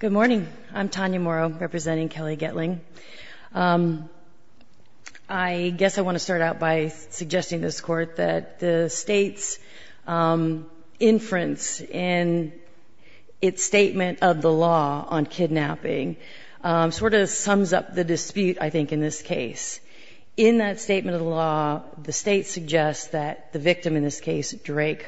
Good morning. I'm Tanya Morrow, representing Kelly Gettling. I guess I want to start out by suggesting to this Court that the State's inference in its statement of the law on kidnapping sort of sums up the dispute, I think, in this case. In that statement of the law, the State suggests that the victim in this case, Drake,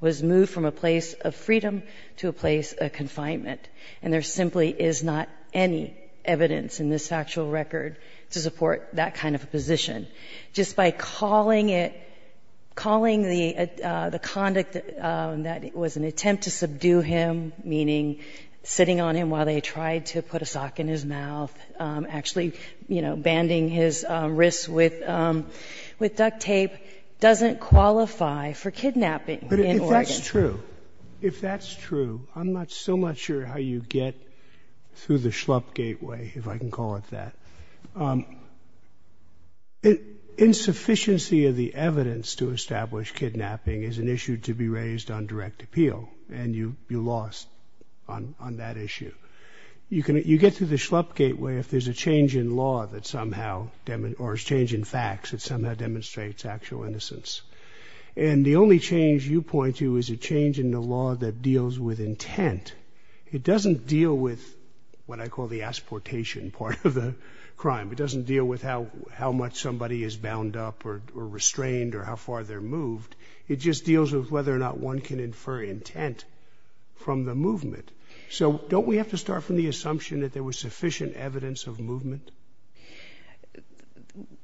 was moved from a place of freedom to a place of confinement, and there simply is not any evidence in this factual record to support that kind of a position. Just by calling it — calling the conduct that was an attempt to subdue him, meaning sitting on him while they tried to put a sock in his mouth, actually, you know, banding his wrists with duct tape, doesn't qualify for kidnapping in Oregon. If that's true, if that's true, I'm still not sure how you get through the schlup gateway, if I can call it that. Insufficiency of the evidence to establish kidnapping is an issue to be raised on direct appeal, and you lost on that issue. You get through the schlup gateway if there's a change in law that somehow — or a change in facts that somehow demonstrates actual innocence. And the only change you point to is a change in the law that deals with intent. It doesn't deal with what I call the asportation part of the crime. It doesn't deal with how much somebody is bound up or restrained or how far they're moved. It just deals with whether or not one can infer intent from the movement. So don't we have to start from the assumption that there was sufficient evidence of movement?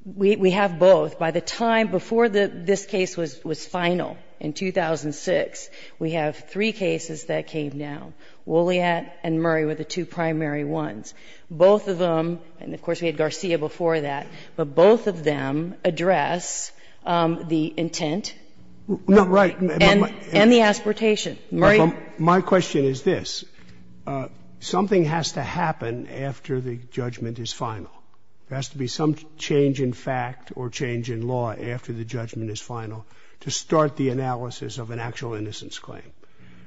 We have both. By the time before this case was final in 2006, we have three cases that came down, Woolleyat and Murray were the two primary ones. Both of them, and of course we had Garcia before that, but both of them address the intent and the asportation. My question is this. Something has to happen after the judgment is final. There has to be some change in fact or change in law after the judgment is final to start the analysis of an actual innocence claim.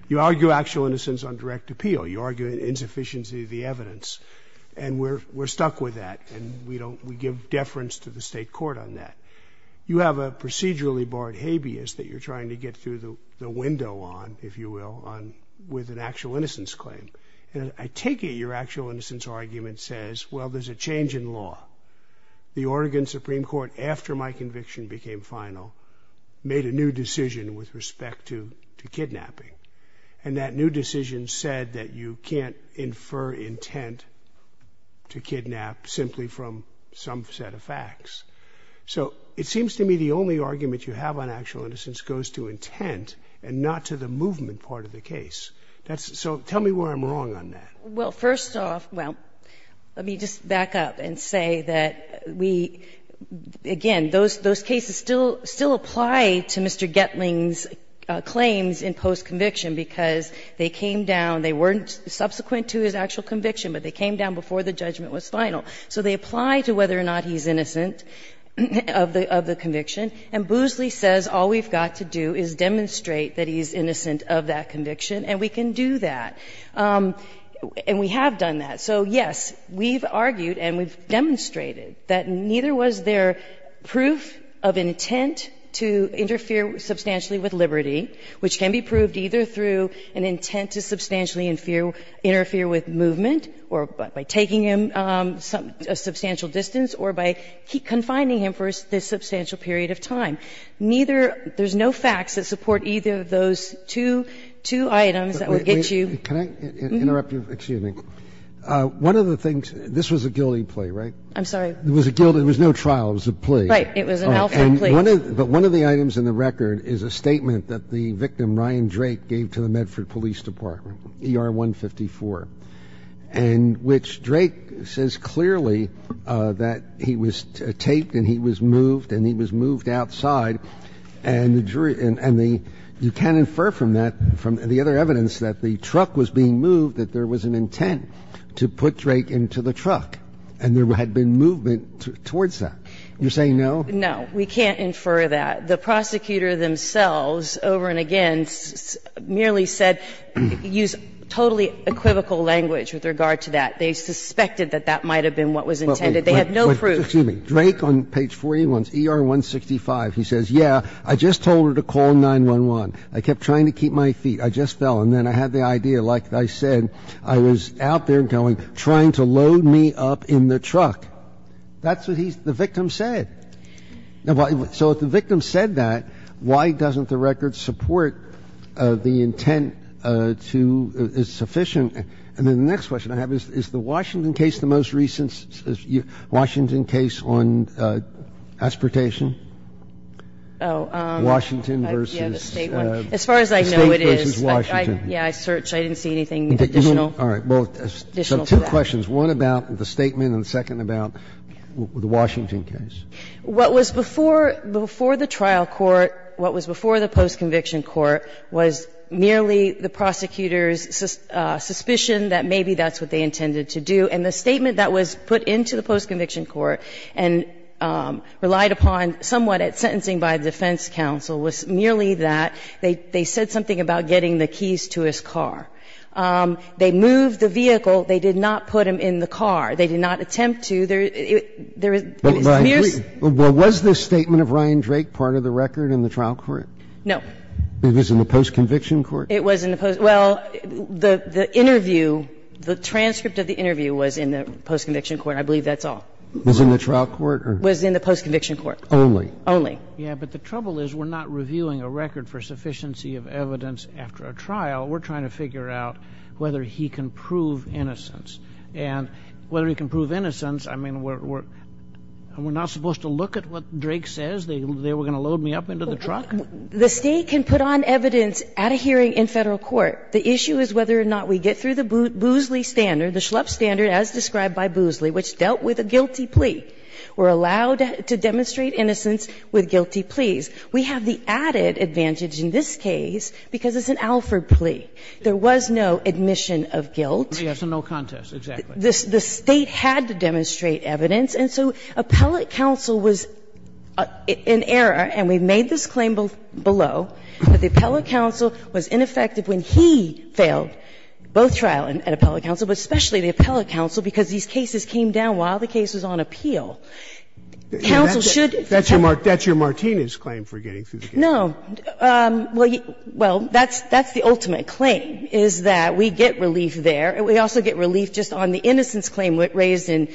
You argue actual innocence on direct appeal. You argue insufficiency of the evidence, and we're stuck with that, and we don't — we give deference to the State court on that. You have a procedurally barred habeas that you're trying to get through the window on, if you will, with an actual innocence claim. I take it your actual innocence argument says, well, there's a change in law. The Oregon Supreme Court, after my conviction became final, made a new decision with respect to kidnapping, and that new decision said that you can't infer intent to kidnap simply from some set of facts. So it seems to me the only argument you have on actual innocence goes to intent and not to the movement part of the case. That's — so tell me where I'm wrong on that. Well, first off, well, let me just back up and say that we — again, those cases still apply to Mr. Gettling's claims in post-conviction because they came down — they weren't subsequent to his actual conviction, but they came down before the judgment was final. So they apply to whether or not he's innocent of the conviction, and Boosley says all we've got to do is demonstrate that he's innocent of that conviction, and we can do that. And we have done that. So, yes, we've argued and we've demonstrated that neither was there proof of intent to interfere substantially with liberty, which can be proved either through an intent to substantially interfere with movement, or by taking him a substantial distance, or by confining him for this substantial period of time. Neither — there's no facts that support either of those two items that would get you — Can I interrupt you? Excuse me. One of the things — this was a Gilding plea, right? I'm sorry? It was a Gilding — it was no trial. It was a plea. Right. It was an Alpha plea. But one of the items in the record is a statement that the victim, Ryan Drake, gave to the Medford Police Department, ER-154, and which Drake says clearly that he was taped and he was moved and he was moved outside, and the jury — and the — you can't infer from that, from the other evidence, that the truck was being moved, that there was an intent to put Drake into the truck, and there had been movement towards that. You're saying no? No. We can't infer that. The prosecutor themselves, over and again, merely said — used totally equivocal language with regard to that. They suspected that that might have been what was intended. They have no proof. Excuse me. Drake, on page 41, ER-165, he says, yeah, I just told her to call 911. I kept trying to keep my feet. I just fell. And then I had the idea, like I said, I was out there going, trying to load me up in the truck. That's what he — the victim said. Now, so if the victim said that, why doesn't the record support the intent to — it's sufficient? And then the next question I have is, is the Washington case the most recent Washington case on aspiratation? Washington v. State v. Washington. Yeah, I searched. I didn't see anything additional. All right. Well, two questions. One about the statement and the second about the Washington case. What was before the trial court, what was before the postconviction court, was merely the prosecutor's suspicion that maybe that's what they intended to do. And the statement that was put into the postconviction court and relied upon somewhat at sentencing by the defense counsel was merely that they said something about getting the keys to his car. They moved the vehicle. They did not put him in the car. They did not attempt to. There is a — But was this statement of Ryan Drake part of the record in the trial court? No. It was in the postconviction court? It was in the post — well, the interview, the transcript of the interview was in the postconviction court. I believe that's all. Was it in the trial court or — Was in the postconviction court. Only? Only. Yeah, but the trouble is we're not reviewing a record for sufficiency of evidence after a trial. We're trying to figure out whether he can prove innocence. And whether he can prove innocence, I mean, we're not supposed to look at what Drake says. They were going to load me up into the truck. The State can put on evidence at a hearing in Federal court. The issue is whether or not we get through the Boozley standard, the Schlupp standard as described by Boozley, which dealt with a guilty plea. We're allowed to demonstrate innocence with guilty pleas. We have the added advantage in this case because it's an Alford plea. There was no admission of guilt. Yes, and no contest, exactly. The State had to demonstrate evidence. And so appellate counsel was in error, and we've made this claim below, that the appellate counsel was ineffective when he failed both trial and appellate counsel, but especially the appellate counsel, because these cases came down while the case was on appeal. Counsel should — No. Well, that's the ultimate claim, is that we get relief there, and we also get relief just on the innocence claim raised in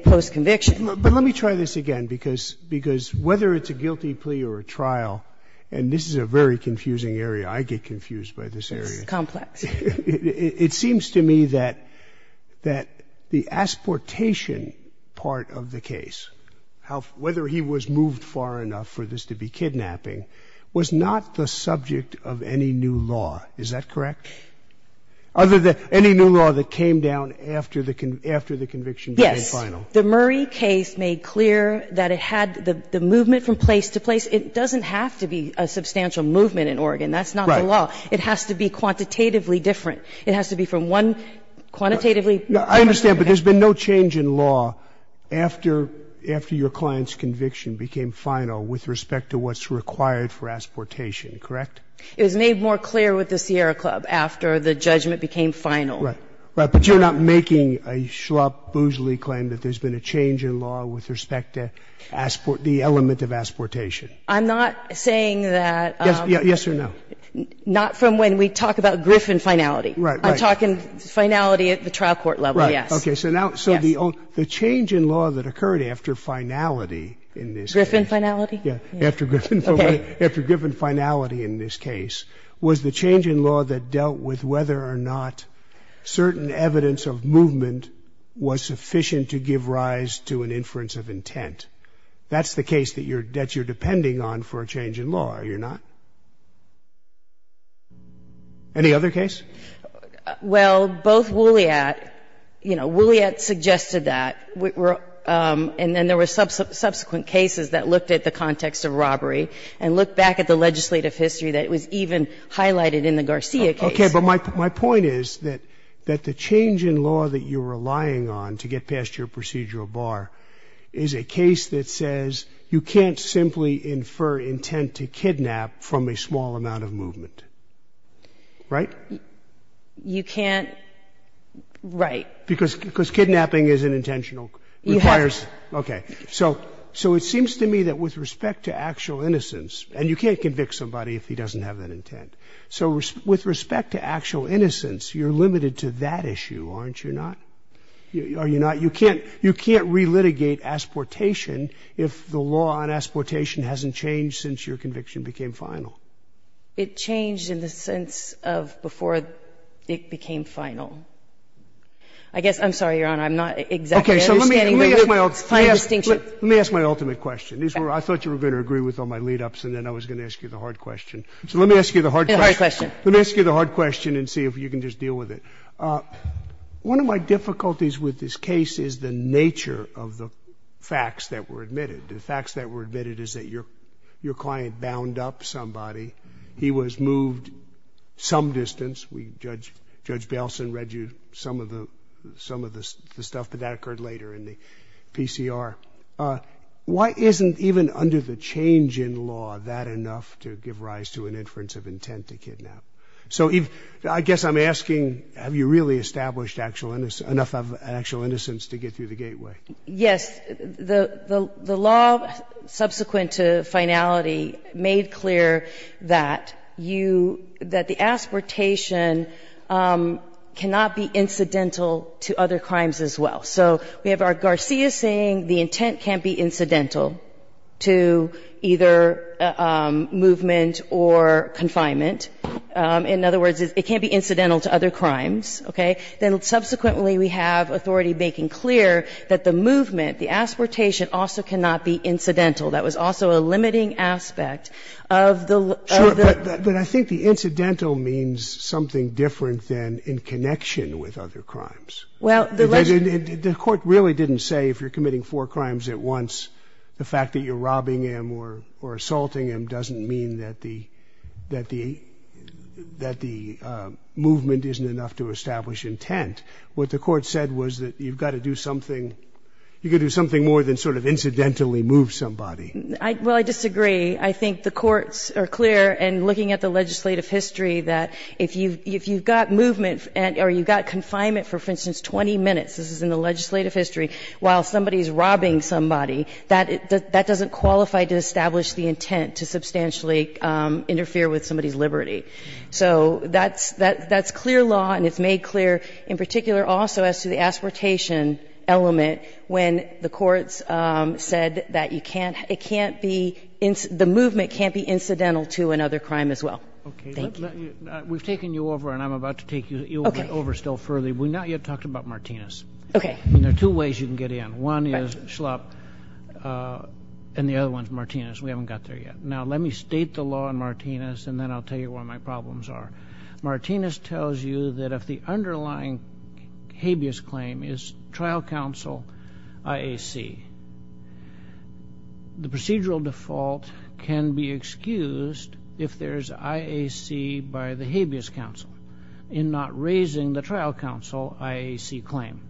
post-conviction. But let me try this again, because whether it's a guilty plea or a trial, and this is a very confusing area. I get confused by this area. It's complex. It seems to me that the asportation part of the case, whether he was moved far enough for this to be kidnapping, was not the subject of any new law. Is that correct? Other than any new law that came down after the conviction became final. Yes. The Murray case made clear that it had the movement from place to place. It doesn't have to be a substantial movement in Oregon. That's not the law. It has to be quantitatively different. It has to be from one quantitatively different area. I understand, but there's been no change in law after your client's conviction became final with respect to what's required for asportation, correct? It was made more clear with the Sierra Club after the judgment became final. Right. But you're not making a schlop, boozely claim that there's been a change in law with respect to the element of asportation. I'm not saying that the element of asportation. Yes or no? Not from when we talk about Griffin finality. Right. I'm talking finality at the trial court level, yes. OK, so the change in law that occurred after Griffin finality in this case was the change in law that dealt with whether or not certain evidence of movement was sufficient to give rise to an inference of intent. That's the case that you're depending on for a change in law, are you not? Any other case? Well, both Woolliat, you know, Woolliat suggested that. And then there were subsequent cases that looked at the context of robbery and looked back at the legislative history that was even highlighted in the Garcia case. OK, but my point is that the change in law that you're relying on to get past your procedural bar is a case that says you can't simply infer intent to kidnap from a small amount of movement. Right? You can't, right. Because kidnapping is an intentional, requires, OK. So it seems to me that with respect to actual innocence, and you can't convict somebody if he doesn't have that intent. So with respect to actual innocence, you're limited to that issue, aren't you not? Are you not? You can't relitigate asportation if the law on asportation hasn't changed since your conviction became final. It changed in the sense of before it became final. I guess, I'm sorry, Your Honor, I'm not exactly understanding the fine distinction. Let me ask my ultimate question. I thought you were going to agree with all my lead-ups, and then I was going to ask you the hard question. So let me ask you the hard question. Let me ask you the hard question and see if you can just deal with it. One of my difficulties with this case is the nature of the facts that were admitted. The facts that were admitted is that your client bound up somebody. He was moved some distance. We, Judge Baleson, read you some of the stuff, but that occurred later in the PCR. Why isn't even under the change in law that enough to give rise to an inference of intent to kidnap? So I guess I'm asking, have you really established enough of actual innocence to get through the gateway? Yes. The law subsequent to finality made clear that you – that the aspiratation cannot be incidental to other crimes as well. So we have our Garcia saying the intent can't be incidental to either movement or confinement. In other words, it can't be incidental to other crimes, okay? Then subsequently we have authority making clear that the movement, the aspiratation, also cannot be incidental. That was also a limiting aspect of the – Sure, but I think the incidental means something different than in connection with other crimes. Well, the – The court really didn't say if you're committing four crimes at once, the fact that you're robbing him or assaulting him doesn't mean that the – that the movement isn't enough to establish intent. What the court said was that you've got to do something – you could do something more than sort of incidentally move somebody. Well, I disagree. I think the courts are clear in looking at the legislative history that if you've got movement or you've got confinement for, for instance, 20 minutes – this is in the legislative history – while somebody's robbing somebody, that doesn't qualify to establish the intent to substantially interfere with somebody's liberty. So that's clear law and it's made clear in particular also as to the aspiratation element when the courts said that you can't – it can't be – the movement can't be incidental to another crime as well. Thank you. We've taken you over and I'm about to take you over still further. We've not yet talked about Martinez. Okay. And there are two ways you can get in. One is Schlapp and the other one is Martinez. We haven't got there yet. Now, let me state the law in Martinez and then I'll tell you what my problems are. Martinez tells you that if the underlying habeas claim is trial counsel IAC, the procedural default can be excused if there's IAC by the habeas counsel in not raising the trial counsel IAC claim.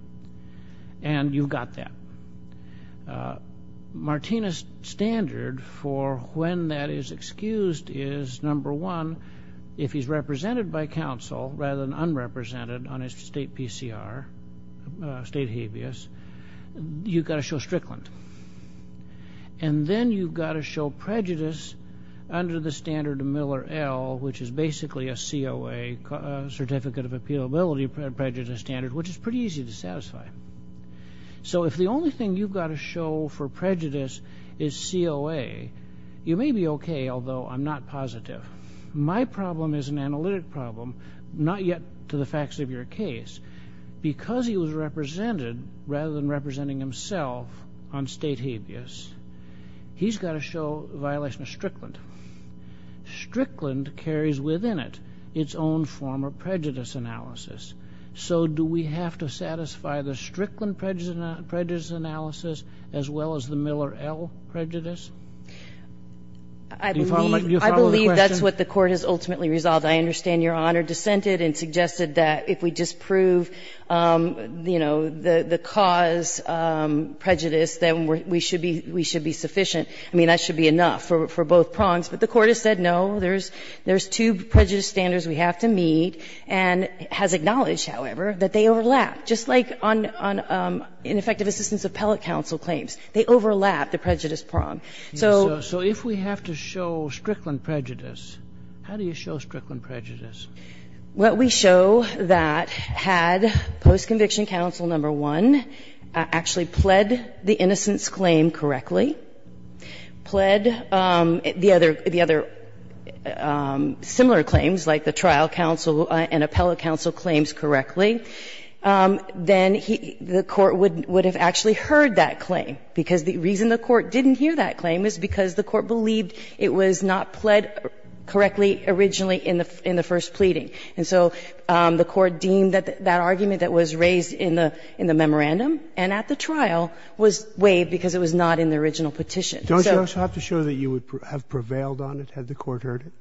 And you've got that. Martinez' standard for when that is excused is, number one, if he's represented by counsel rather than unrepresented on his state PCR, state habeas, you've got to show Strickland. And then you've got to show prejudice under the standard of Miller L, which is basically a COA, Certificate of Appealability Prejudice Standard, which is pretty easy to satisfy. So if the only thing you've got to show for prejudice is COA, you may be okay, although I'm not positive. My problem is an analytic problem, not yet to the facts of your case. Because he was represented rather than representing himself on state habeas, he's got to show violation of Strickland. Strickland carries within it its own form of prejudice analysis. So do we have to satisfy the Strickland prejudice analysis as well as the Miller L prejudice? Do you follow the question? I believe that's what the Court has ultimately resolved. I understand Your Honor dissented and suggested that if we just prove, you know, the cause prejudice, then we should be sufficient. I mean, that should be enough for both prongs. But the Court has said, no, there's two prejudice standards we have to meet and has acknowledged, however, that they overlap, just like on ineffective assistance appellate counsel claims. They overlap the prejudice prong. So if we have to show Strickland prejudice, how do you show Strickland prejudice? Well, we show that had post-conviction counsel number one actually pled the innocence claim correctly, pled the other similar claims, like the trial counsel and appellate counsel claims correctly, then the Court would have actually heard that claim. Because the reason the Court didn't hear that claim is because the Court believed it was not pled correctly originally in the first pleading. And so the Court deemed that that argument that was raised in the memorandum and at the trial was waived because it was not in the original petition. So the Court would have heard it. Don't you also have to show that you would have prevailed on it had the Court heard it?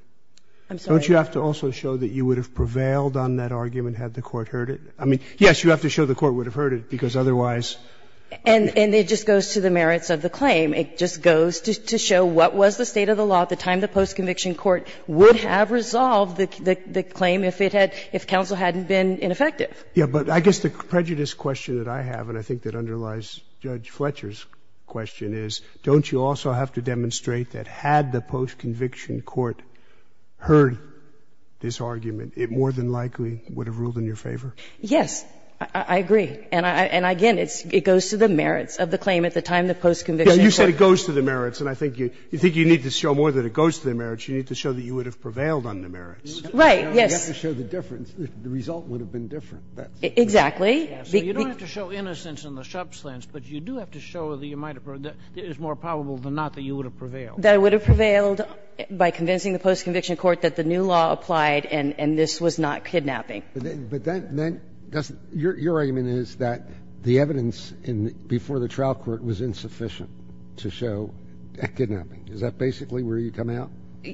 I'm sorry. Don't you have to also show that you would have prevailed on that argument had the Court heard it? I mean, yes, you have to show the Court would have heard it, because otherwise you wouldn't have heard it. And it just goes to the merits of the claim. It just goes to show what was the state of the law at the time the post-conviction court would have resolved the claim if it had — if counsel hadn't been ineffective. Yes, but I guess the prejudice question that I have, and I think that underlies Judge Fletcher's question, is don't you also have to demonstrate that had the post-conviction court heard this argument, it more than likely would have ruled in your favor? Yes, I agree. And again, it goes to the merits of the claim at the time the post-conviction court — You said it goes to the merits, and I think you need to show more than it goes to the merits. You need to show that you would have prevailed on the merits. Right, yes. You have to show the difference. The result would have been different. Exactly. So you don't have to show innocence in the Shup's lens, but you do have to show that you might have — that it is more probable than not that you would have prevailed. That I would have prevailed by convincing the post-conviction court that the new law applied and this was not kidnapping. But that — your argument is that the evidence before the trial court was insufficient to show a kidnapping. Is that basically where you come out?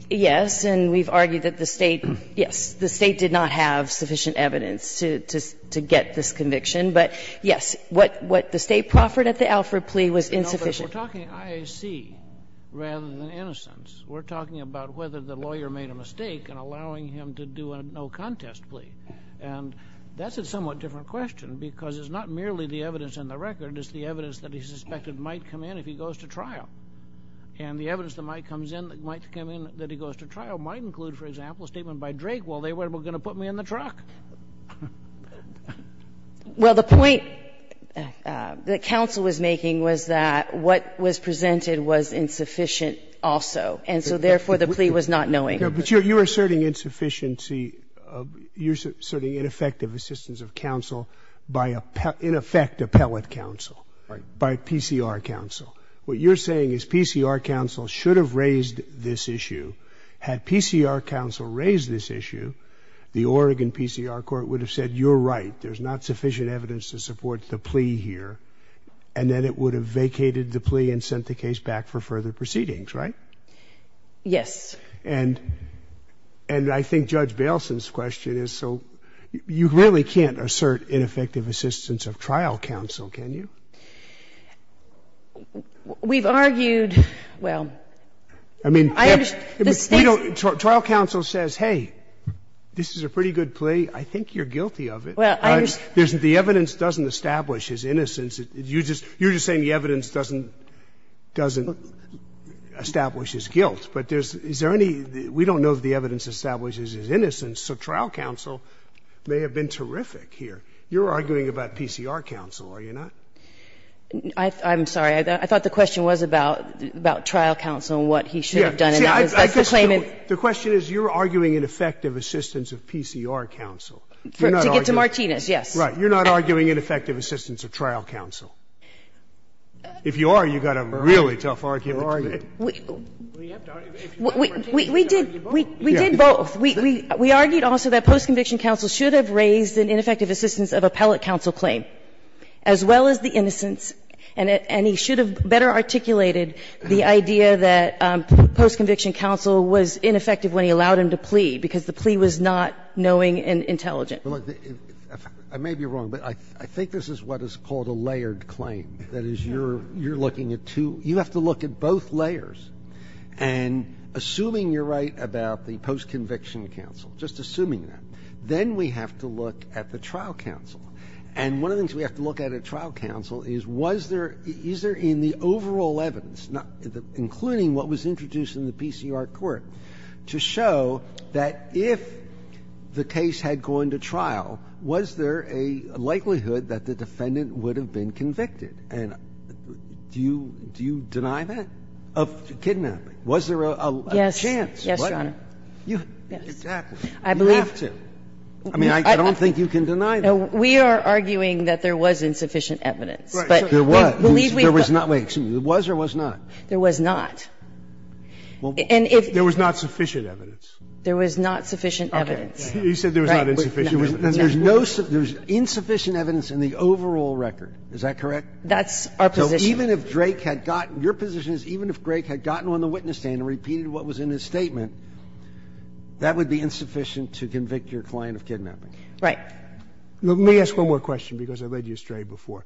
Yes, and we've argued that the State — yes, the State did not have sufficient evidence to get this conviction. But, yes, what the State proffered at the Alford plea was insufficient. We're talking IAC rather than innocence. We're talking about whether the lawyer made a mistake in allowing him to do a no-contest plea. And that's a somewhat different question because it's not merely the evidence in the record. It's the evidence that he suspected might come in if he goes to trial. And the evidence that might come in — that might come in that he goes to trial might include, for example, a statement by Drake, well, they were going to put me in the truck. Well, the point that counsel was making was that what was presented was insufficient also. And so, therefore, the plea was not knowing. But you're asserting insufficiency — you're asserting ineffective assistance of counsel by a — in effect, appellate counsel. Right. By PCR counsel. What you're saying is PCR counsel should have raised this issue. Had PCR counsel raised this issue, the Oregon PCR court would have said, you're right, there's not sufficient evidence to support the plea here. And then it would have vacated the plea and sent the case back for further proceedings, right? Yes. And — and I think Judge Bailson's question is, so you really can't assert ineffective assistance of trial counsel, can you? We've argued — well, I understand — Trial counsel says, hey, this is a pretty good plea. I think you're guilty of it. Well, I just — The evidence doesn't establish his innocence. You're just saying the evidence doesn't — doesn't establish his guilt. But there's — is there any — we don't know that the evidence establishes his innocence. So trial counsel may have been terrific here. You're arguing about PCR counsel, are you not? I'm sorry. I thought the question was about — about trial counsel and what he should have done. I guess the question is, you're arguing ineffective assistance of PCR counsel. To get to Martinez, yes. Right. You're not arguing ineffective assistance of trial counsel. If you are, you've got a really tough argument to make. We did — we did both. We argued also that post-conviction counsel should have raised an ineffective assistance of appellate counsel claim, as well as the innocence, and he should have better articulated the idea that post-conviction counsel was ineffective when he allowed him to plea, because the plea was not knowing and intelligent. Well, look, I may be wrong, but I think this is what is called a layered claim. That is, you're — you're looking at two — you have to look at both layers. And assuming you're right about the post-conviction counsel, just assuming that, then we have to look at the trial counsel. And one of the things we have to look at at trial counsel is, was there — is there in the overall evidence, including what was introduced in the PCR court, to show that if the case had gone to trial, was there a likelihood that the defendant would have been convicted? And do you — do you deny that, of kidnapping? Was there a chance? Yes. Yes, Your Honor. You have to. Yes. I believe — You have to. I mean, I don't think you can deny that. No. We are arguing that there was insufficient evidence. But we believe we could — There was. There was not. Wait. Excuse me. There was or was not? There was not. And if — There was not sufficient evidence. There was not sufficient evidence. Okay. You said there was not insufficient evidence. There's no — there's insufficient evidence in the overall record. Is that correct? That's our position. So even if Drake had gotten — your position is even if Drake had gotten on the witness stand and repeated what was in his statement, that would be insufficient to convict your client of kidnapping. Right. Let me ask one more question because I led you astray before.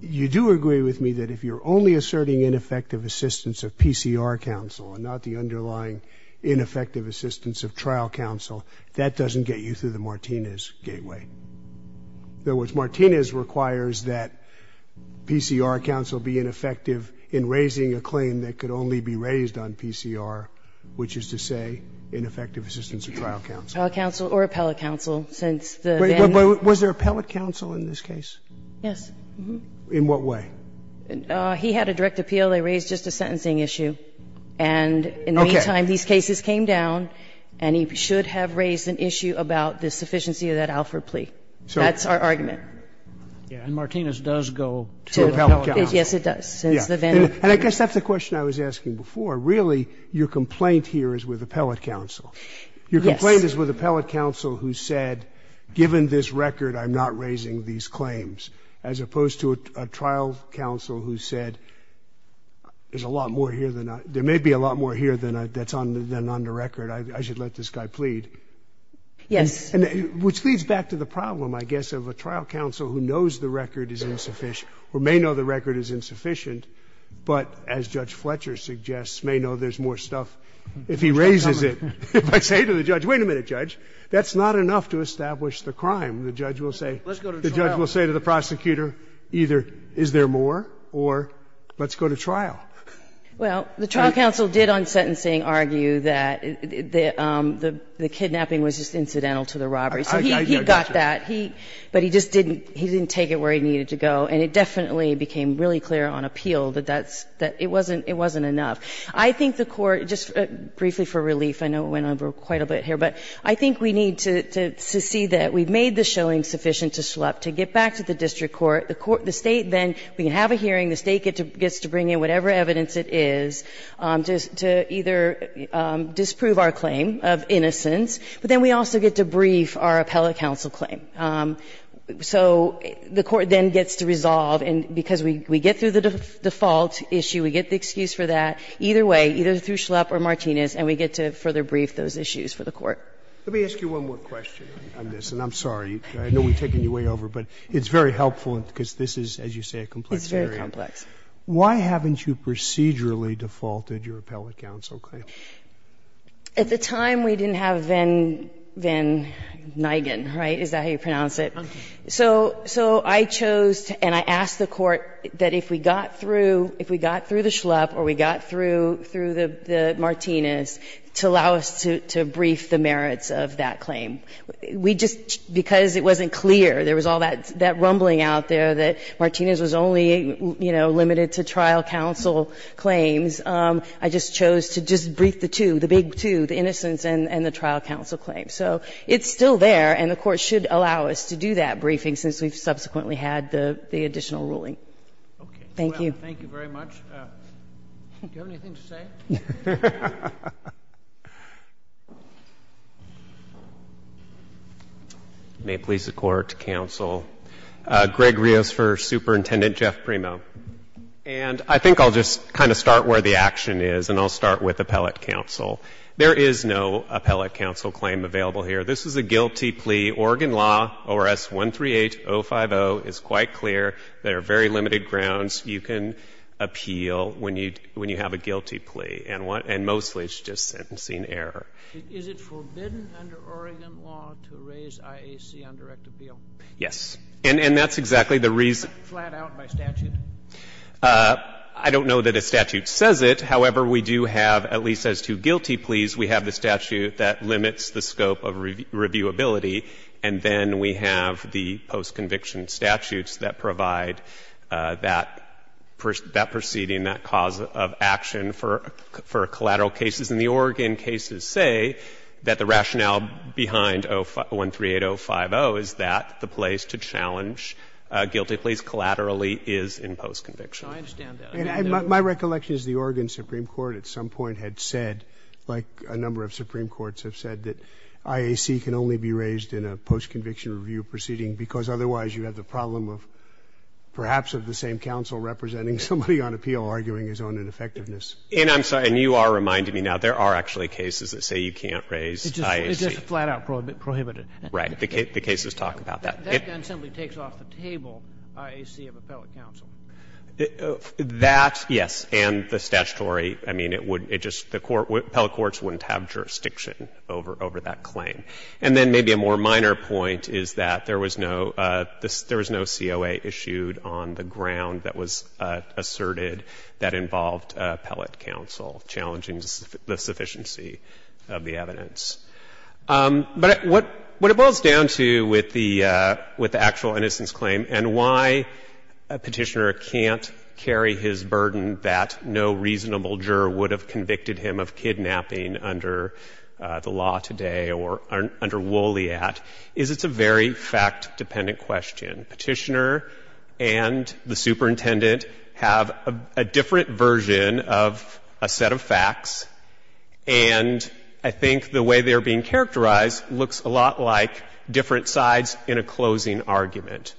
You do agree with me that if you're only asserting ineffective assistance of PCR counsel and not the underlying ineffective assistance of trial counsel, that doesn't get you through the Martinez gateway. In other words, Martinez requires that PCR counsel be ineffective in raising a claim that could only be raised on PCR, which is to say ineffective assistance of trial counsel. Trial counsel or appellate counsel, since the — But was there appellate counsel in this case? Yes. In what way? He had a direct appeal. They raised just a sentencing issue. And in the meantime, these cases came down, and he should have raised an issue about the sufficiency of that Alford plea. That's our argument. And Martinez does go to appellate counsel. Yes, it does. And I guess that's the question I was asking before. Really, your complaint here is with appellate counsel. Yes. Your complaint is with appellate counsel who said, given this record, I'm not raising these claims, as opposed to a trial counsel who said, there's a lot more here than — there may be a lot more here than on the record. I should let this guy plead. Yes. Which leads back to the problem, I guess, of a trial counsel who knows the record is insufficient or may know the record is insufficient but, as Judge Fletcher suggests, may know there's more stuff if he raises it. If I say to the judge, wait a minute, Judge. That's not enough to establish the crime. The judge will say to the prosecutor, either is there more or let's go to trial. Well, the trial counsel did on sentencing argue that the kidnapping was just incidental to the robbery. So he got that. But he just didn't take it where he needed to go. And it definitely became really clear on appeal that it wasn't enough. I think the Court, just briefly for relief, I know we went over quite a bit here, but I think we need to see that. We've made the showing sufficient to get back to the district court. The State then, we can have a hearing. The State gets to bring in whatever evidence it is to either disprove our claim of innocence, but then we also get to brief our appellate counsel claim. So the Court then gets to resolve, and because we get through the default issue, we get the excuse for that. Either way, either through Schlupp or Martinez, and we get to further brief those issues for the Court. Let me ask you one more question on this, and I'm sorry. I know we've taken you way over, but it's very helpful because this is, as you say, a complex area. It's very complex. Why haven't you procedurally defaulted your appellate counsel claim? At the time, we didn't have Van Nigen, right? Is that how you pronounce it? Okay. So I chose and I asked the Court that if we got through, if we got through the Schlupp or we got through the Martinez, to allow us to brief the merits of that claim. We just, because it wasn't clear, there was all that rumbling out there that Martinez was only, you know, limited to trial counsel claims, I just chose to just brief the two, the big two, the innocence and the trial counsel claim. So it's still there, and the Court should allow us to do that briefing since we've subsequently had the additional ruling. Thank you. Thank you very much. Do you have anything to say? May it please the Court, counsel. Greg Rios for Superintendent Jeff Primo. And I think I'll just kind of start where the action is, and I'll start with appellate counsel. There is no appellate counsel claim available here. This is a guilty plea. Oregon law, ORS 138050, is quite clear. There are very limited grounds you can appeal when you have a guilty plea, and mostly it's just sentencing error. Is it forbidden under Oregon law to raise IAC on direct appeal? Yes. And that's exactly the reason. Flat out by statute? I don't know that a statute says it. However, we do have, at least as to guilty pleas, we have the statute that limits the scope of reviewability, and then we have the postconviction statutes that provide that proceeding, that cause of action for collateral cases. And the Oregon cases say that the rationale behind ORS 138050 is that the place to challenge guilty pleas collaterally is in postconviction. So I understand that. My recollection is the Oregon supreme court at some point had said, like a number of supreme courts have said, that IAC can only be raised in a postconviction review proceeding because otherwise you have the problem of perhaps of the same counsel representing somebody on appeal arguing his own ineffectiveness. And I'm sorry. And you are reminding me now there are actually cases that say you can't raise IAC. It's just flat out prohibited. Right. The cases talk about that. That then simply takes off the table IAC of appellate counsel. That, yes, and the statutory, I mean, it would, it just, the court, the appellate courts wouldn't have jurisdiction over that claim. And then maybe a more minor point is that there was no, there was no COA issued on the ground that was asserted that involved appellate counsel challenging the sufficiency of the evidence. But what it boils down to with the actual innocence claim and why Petitioner can't carry his burden that no reasonable juror would have convicted him of kidnapping under the law today or under Woolley at is it's a very fact-dependent question. Petitioner and the superintendent have a different version of a set of facts. And I think the way they are being characterized looks a lot like different sides in a closing argument.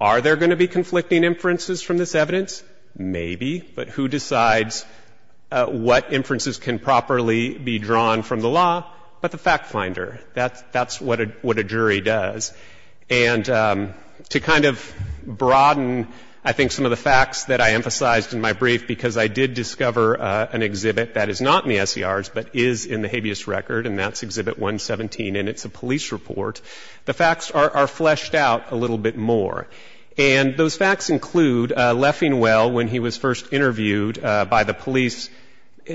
Are there going to be conflicting inferences from this evidence? Maybe. But who decides what inferences can properly be drawn from the law? But the fact finder. That's what a jury does. And to kind of broaden, I think, some of the facts that I emphasized in my brief, because I did discover an exhibit that is not in the SCRs, but is in the habeas record, and that's Exhibit 117, and it's a police report. The facts are fleshed out a little bit more. And those facts include Leffingwell, when he was first interviewed by the police,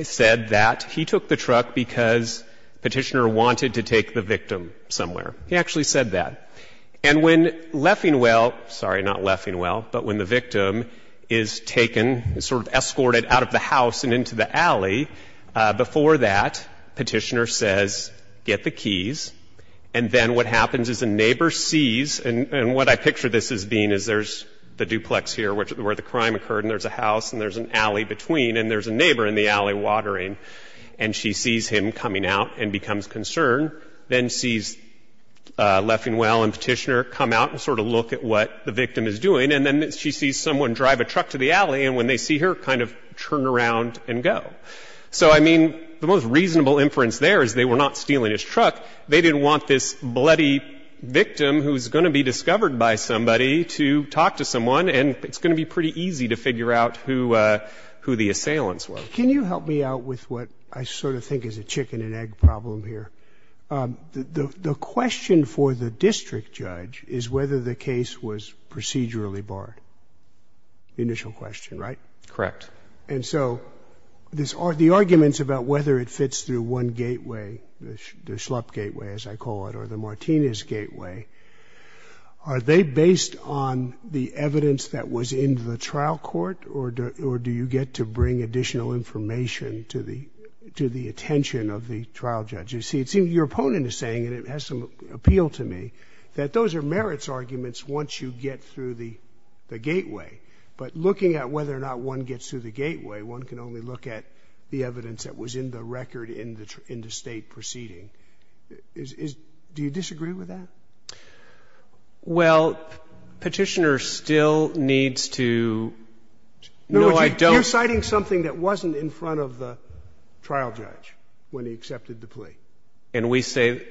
said that he took the truck because Petitioner wanted to take the victim somewhere. He actually said that. And when Leffingwell — sorry, not Leffingwell, but when the victim is taken, sort of escorted out of the house and into the alley, before that, Petitioner says, get the keys, and then what happens is the neighbor sees, and what I picture this as being is there's the duplex here where the crime occurred, and there's a house, and there's an alley between, and there's a neighbor in the alley watering, and she sees him coming out and becomes concerned, then sees Leffingwell and Petitioner come out and sort of look at what the victim is doing, and then she sees someone drive a truck to the alley, and when they see her kind of turn around and go. So, I mean, the most reasonable inference there is they were not stealing his truck. They didn't want this bloody victim who's going to be discovered by somebody to talk to someone, and it's going to be pretty easy to figure out who the assailants were. Can you help me out with what I sort of think is a chicken-and-egg problem here? The question for the district judge is whether the case was procedurally barred, the initial question, right? Correct. And so the arguments about whether it fits through one gateway, the Schlupp gateway, as I call it, or the Martinez gateway, are they based on the evidence that was in the trial court, or do you get to bring additional information to the attention of the trial judge? You see, it seems your opponent is saying, and it has some appeal to me, that those are merits arguments once you get through the gateway. But looking at whether or not one gets through the gateway, one can only look at the evidence that was in the record in the State proceeding. Do you disagree with that? Well, Petitioner still needs to no, I don't. You're citing something that wasn't in front of the trial judge when he accepted the plea. And we say,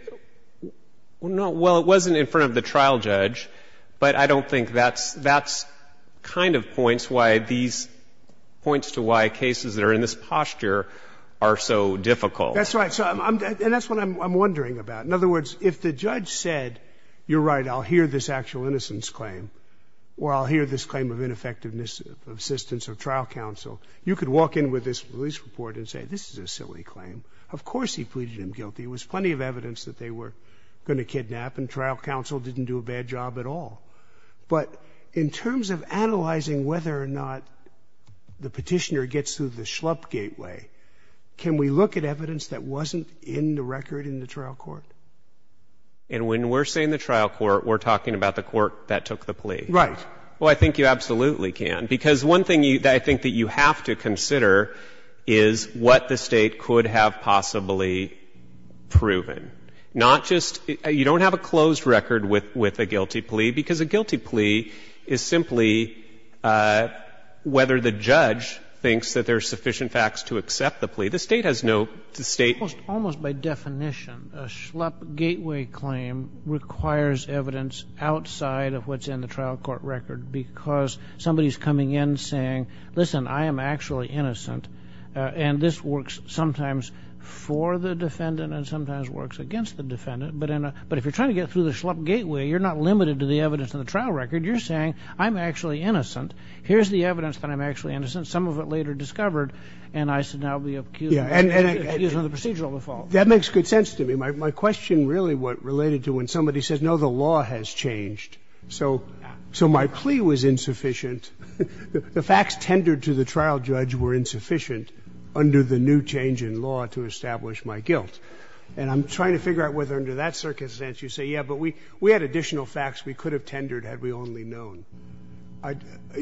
well, it wasn't in front of the trial judge, but I don't think that's kind of points why these points to why cases that are in this posture are so difficult. That's right. And that's what I'm wondering about. In other words, if the judge said, you're right, I'll hear this actual innocence claim, or I'll hear this claim of ineffectiveness of assistance of trial counsel, you could walk in with this release report and say this is a silly claim. Of course he pleaded him guilty. There was plenty of evidence that they were going to kidnap, and trial counsel didn't do a bad job at all. But in terms of analyzing whether or not the Petitioner gets through the schlup gateway, can we look at evidence that wasn't in the record in the trial court? And when we're saying the trial court, we're talking about the court that took the plea. Right. Well, I think you absolutely can, because one thing I think that you have to consider is what the State could have possibly proven, not just you don't have a closed record with a guilty plea, because a guilty plea is simply whether the judge thinks that there are sufficient facts to accept the plea. The State has no state. Almost by definition, a schlup gateway claim requires evidence outside of what's in the trial court record, because somebody's coming in saying, listen, I am actually innocent, and this works sometimes for the defendant and sometimes works against the defendant. But if you're trying to get through the schlup gateway, you're not limited to the evidence in the trial record. You're saying, I'm actually innocent. Here's the evidence that I'm actually innocent. Some of it later discovered, and I should now be accused of using the procedural default. That makes good sense to me. My question really related to when somebody says, no, the law has changed. So my plea was insufficient. The facts tendered to the trial judge were insufficient under the new change in law to establish my guilt. And I'm trying to figure out whether under that circumstance you say, yeah, but we had additional facts we could have tendered had we only known.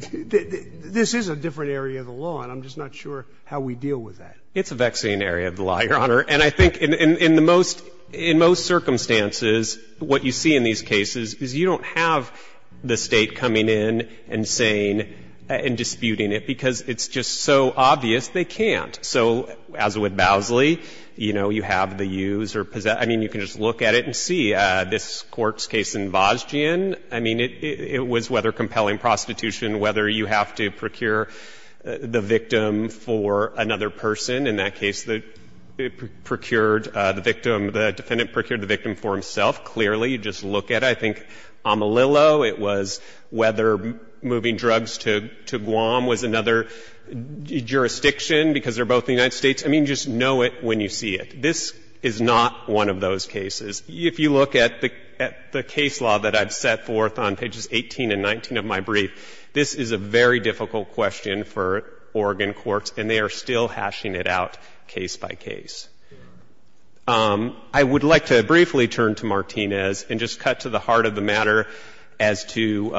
This is a different area of the law, and I'm just not sure how we deal with that. It's a vexing area of the law, Your Honor. And I think in the most, in most circumstances, what you see in these cases is you don't have the State coming in and saying and disputing it, because it's just so obvious they can't. So as with Bowsley, you know, you have the use or possess. I mean, you can just look at it and see. This Court's case in Vazgen, I mean, it was whether compelling prostitution, whether you have to procure the victim for another person. In that case, it procured the victim, the defendant procured the victim for himself. Clearly, you just look at it. I think Amalillo, it was whether moving drugs to Guam was another jurisdiction, because they're both in the United States. I mean, just know it when you see it. This is not one of those cases. If you look at the case law that I've set forth on pages 18 and 19 of my brief, this is a very difficult question for Oregon courts, and they are still hashing it out case by case. I would like to briefly turn to Martinez and just cut to the heart of the matter as to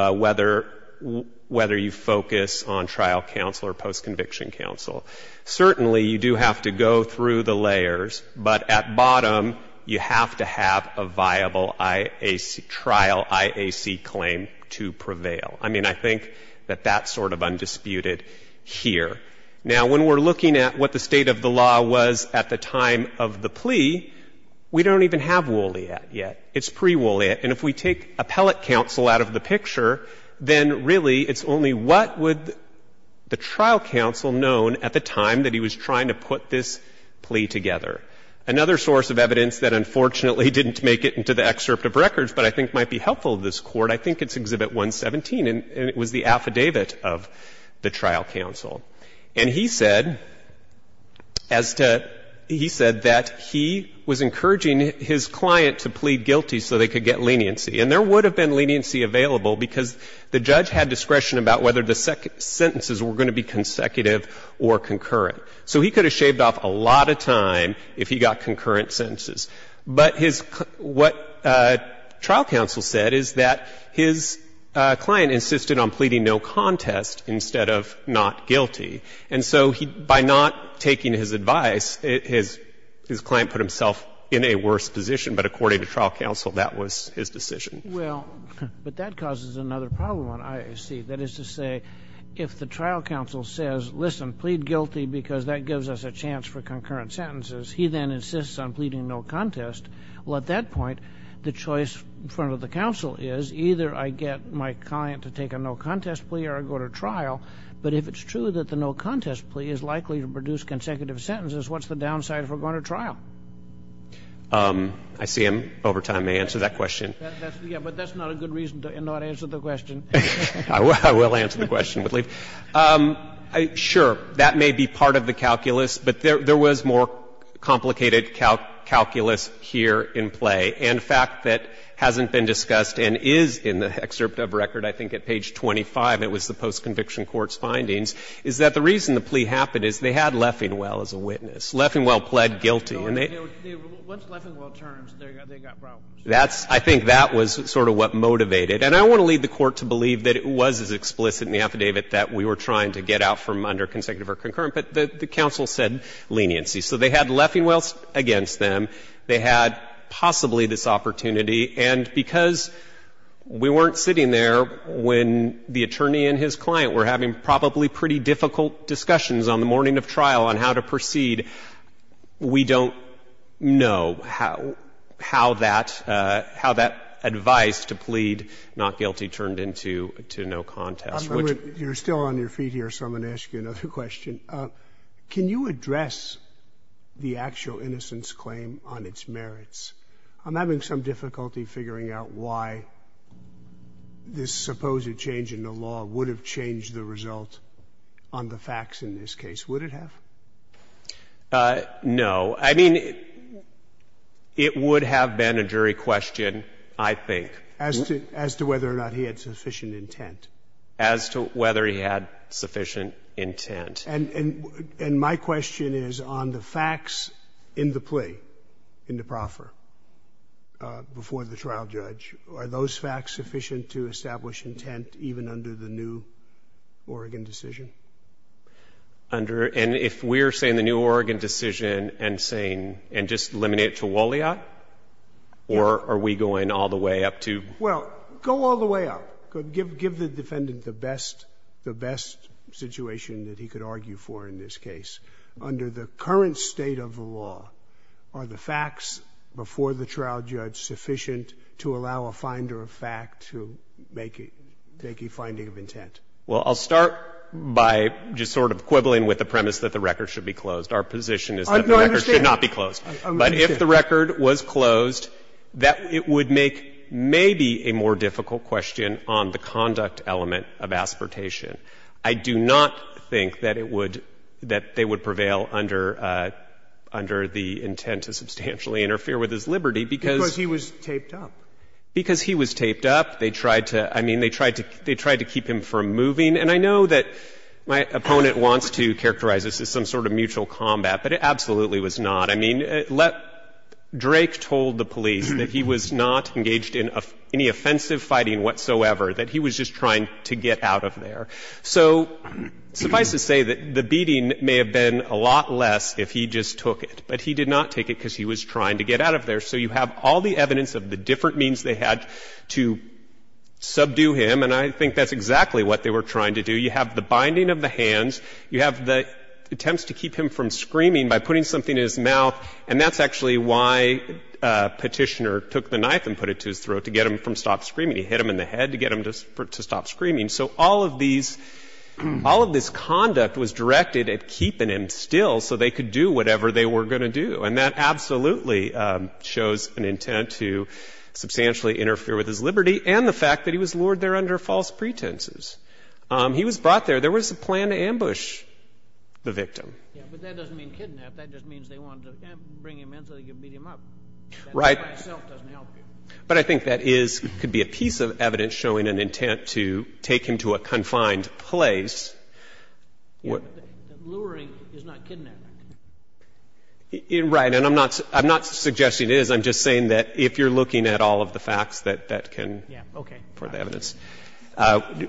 whether you focus on trial counsel or post-conviction counsel. Certainly, you do have to go through the layers, but at bottom, you have to have a viable IAC, trial IAC claim to prevail. I mean, I think that that's sort of undisputed here. Now, when we're looking at what the state of the law was at the time of the plea, we don't even have Wooliette yet. It's pre-Wooliette. And if we take appellate counsel out of the picture, then really it's only what would the trial counsel known at the time that he was trying to put this plea together. Another source of evidence that unfortunately didn't make it into the excerpt of records, but I think might be helpful to this Court, I think it's Exhibit 117, and it was the affidavit of the trial counsel. And he said, as to he said that he was encouraging his client to plead guilty so they could get leniency. And there would have been leniency available because the judge had discretion about whether the sentences were going to be consecutive or concurrent. So he could have shaved off a lot of time if he got concurrent sentences. But his – what trial counsel said is that his client insisted on pleading no contest instead of not guilty. And so he, by not taking his advice, his client put himself in a worse position, but according to trial counsel, that was his decision. Kennedy. Well, but that causes another problem on IAC. That is to say, if the trial counsel says, listen, plead guilty because that gives us a chance for concurrent sentences, he then insists on pleading no contest. Well, at that point, the choice in front of the counsel is either I get my client to take a no contest plea or I go to trial. But if it's true that the no contest plea is likely to produce consecutive sentences, what's the downside if we're going to trial? I see I'm over time. May I answer that question? Yes, but that's not a good reason to not answer the question. I will answer the question with leave. Sure, that may be part of the calculus, but there was more complicated calculus here in play. And the fact that hasn't been discussed and is in the excerpt of record, I think at page 25, it was the postconviction court's findings, is that the reason the plea happened is they had Leffingwell as a witness. Leffingwell pled guilty. Once Leffingwell turns, they've got problems. I think that was sort of what motivated. And I want to lead the Court to believe that it was as explicit in the affidavit that we were trying to get out from under consecutive or concurrent, but the counsel said leniency. So they had Leffingwell against them. They had possibly this opportunity. And because we weren't sitting there when the attorney and his client were having probably pretty difficult discussions on the morning of trial on how to proceed, we don't know how that advice to plead not guilty turned into no contest. Which you're still on your feet here, so I'm going to ask you another question. Can you address the actual innocence claim on its merits? I'm having some difficulty figuring out why this supposed change in the law would have changed the result on the facts in this case. Would it have? No. I mean, it would have been a jury question, I think. As to whether or not he had sufficient intent? As to whether he had sufficient intent. And my question is on the facts in the plea, in the proffer, before the trial judge, are those facts sufficient to establish intent even under the new Oregon decision? Under — and if we're saying the new Oregon decision and saying — and just eliminate Chiwulea, or are we going all the way up to — Well, go all the way up. Give the defendant the best — the best situation that he could argue for in this case. Under the current state of the law, are the facts before the trial judge sufficient to allow a finder of fact to make a finding of intent? Well, I'll start by just sort of quibbling with the premise that the record should be closed. Our position is that the record should not be closed. I understand. But if the record was closed, that would make maybe a more difficult question on the conduct element of aspirtation. I do not think that it would — that they would prevail under the intent to substantially interfere with his liberty, because — Because he was taped up. Because he was taped up. They tried to — I mean, they tried to — they tried to keep him from moving. And I know that my opponent wants to characterize this as some sort of mutual combat, but it absolutely was not. I mean, let — Drake told the police that he was not engaged in any offensive fighting whatsoever, that he was just trying to get out of there. So suffice to say that the beating may have been a lot less if he just took it. But he did not take it because he was trying to get out of there. So you have all the evidence of the different means they had to subdue him. And I think that's exactly what they were trying to do. You have the binding of the hands. You have the attempts to keep him from screaming by putting something in his mouth. And that's actually why Petitioner took the knife and put it to his throat, to get him from stopped screaming. He hit him in the head to get him to stop screaming. So all of these — all of this conduct was directed at keeping him still so they could do whatever they were going to do. And that absolutely shows an intent to substantially interfere with his liberty and the fact that he was lured there under false pretenses. He was brought there. There was a plan to ambush the victim. But that doesn't mean kidnap. That just means they wanted to bring him in so they could beat him up. Right. That by itself doesn't help you. But I think that is — could be a piece of evidence showing an intent to take him to a confined place. Luring is not kidnapping. Right. And I'm not suggesting it is. I'm just saying that if you're looking at all of the facts, that that can be part of the evidence.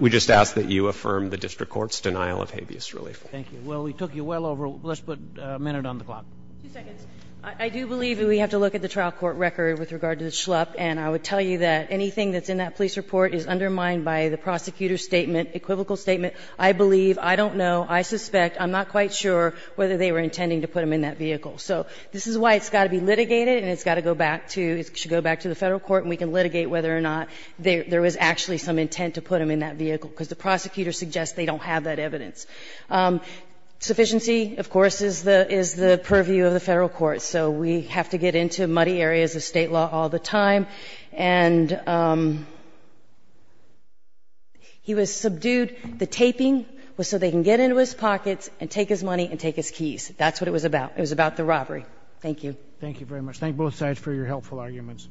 We just ask that you affirm the district court's denial of habeas relief. Thank you. Well, we took you well over. Let's put a minute on the clock. Two seconds. I do believe that we have to look at the trial court record with regard to the schlup. And I would tell you that anything that's in that police report is undermined by the prosecutor's statement, equivocal statement. I believe, I don't know, I suspect, I'm not quite sure whether they were intent to put him in that vehicle. So this is why it's got to be litigated and it's got to go back to — it should go back to the Federal court and we can litigate whether or not there was actually some intent to put him in that vehicle, because the prosecutor suggests they don't have that evidence. Sufficiency, of course, is the purview of the Federal court. So we have to get into muddy areas of State law all the time. And he was subdued. The taping was so they can get into his pockets and take his money and take his keys. That's what it was about. It was about the robbery. Thank you. Thank you very much. Thank both sides for your helpful arguments.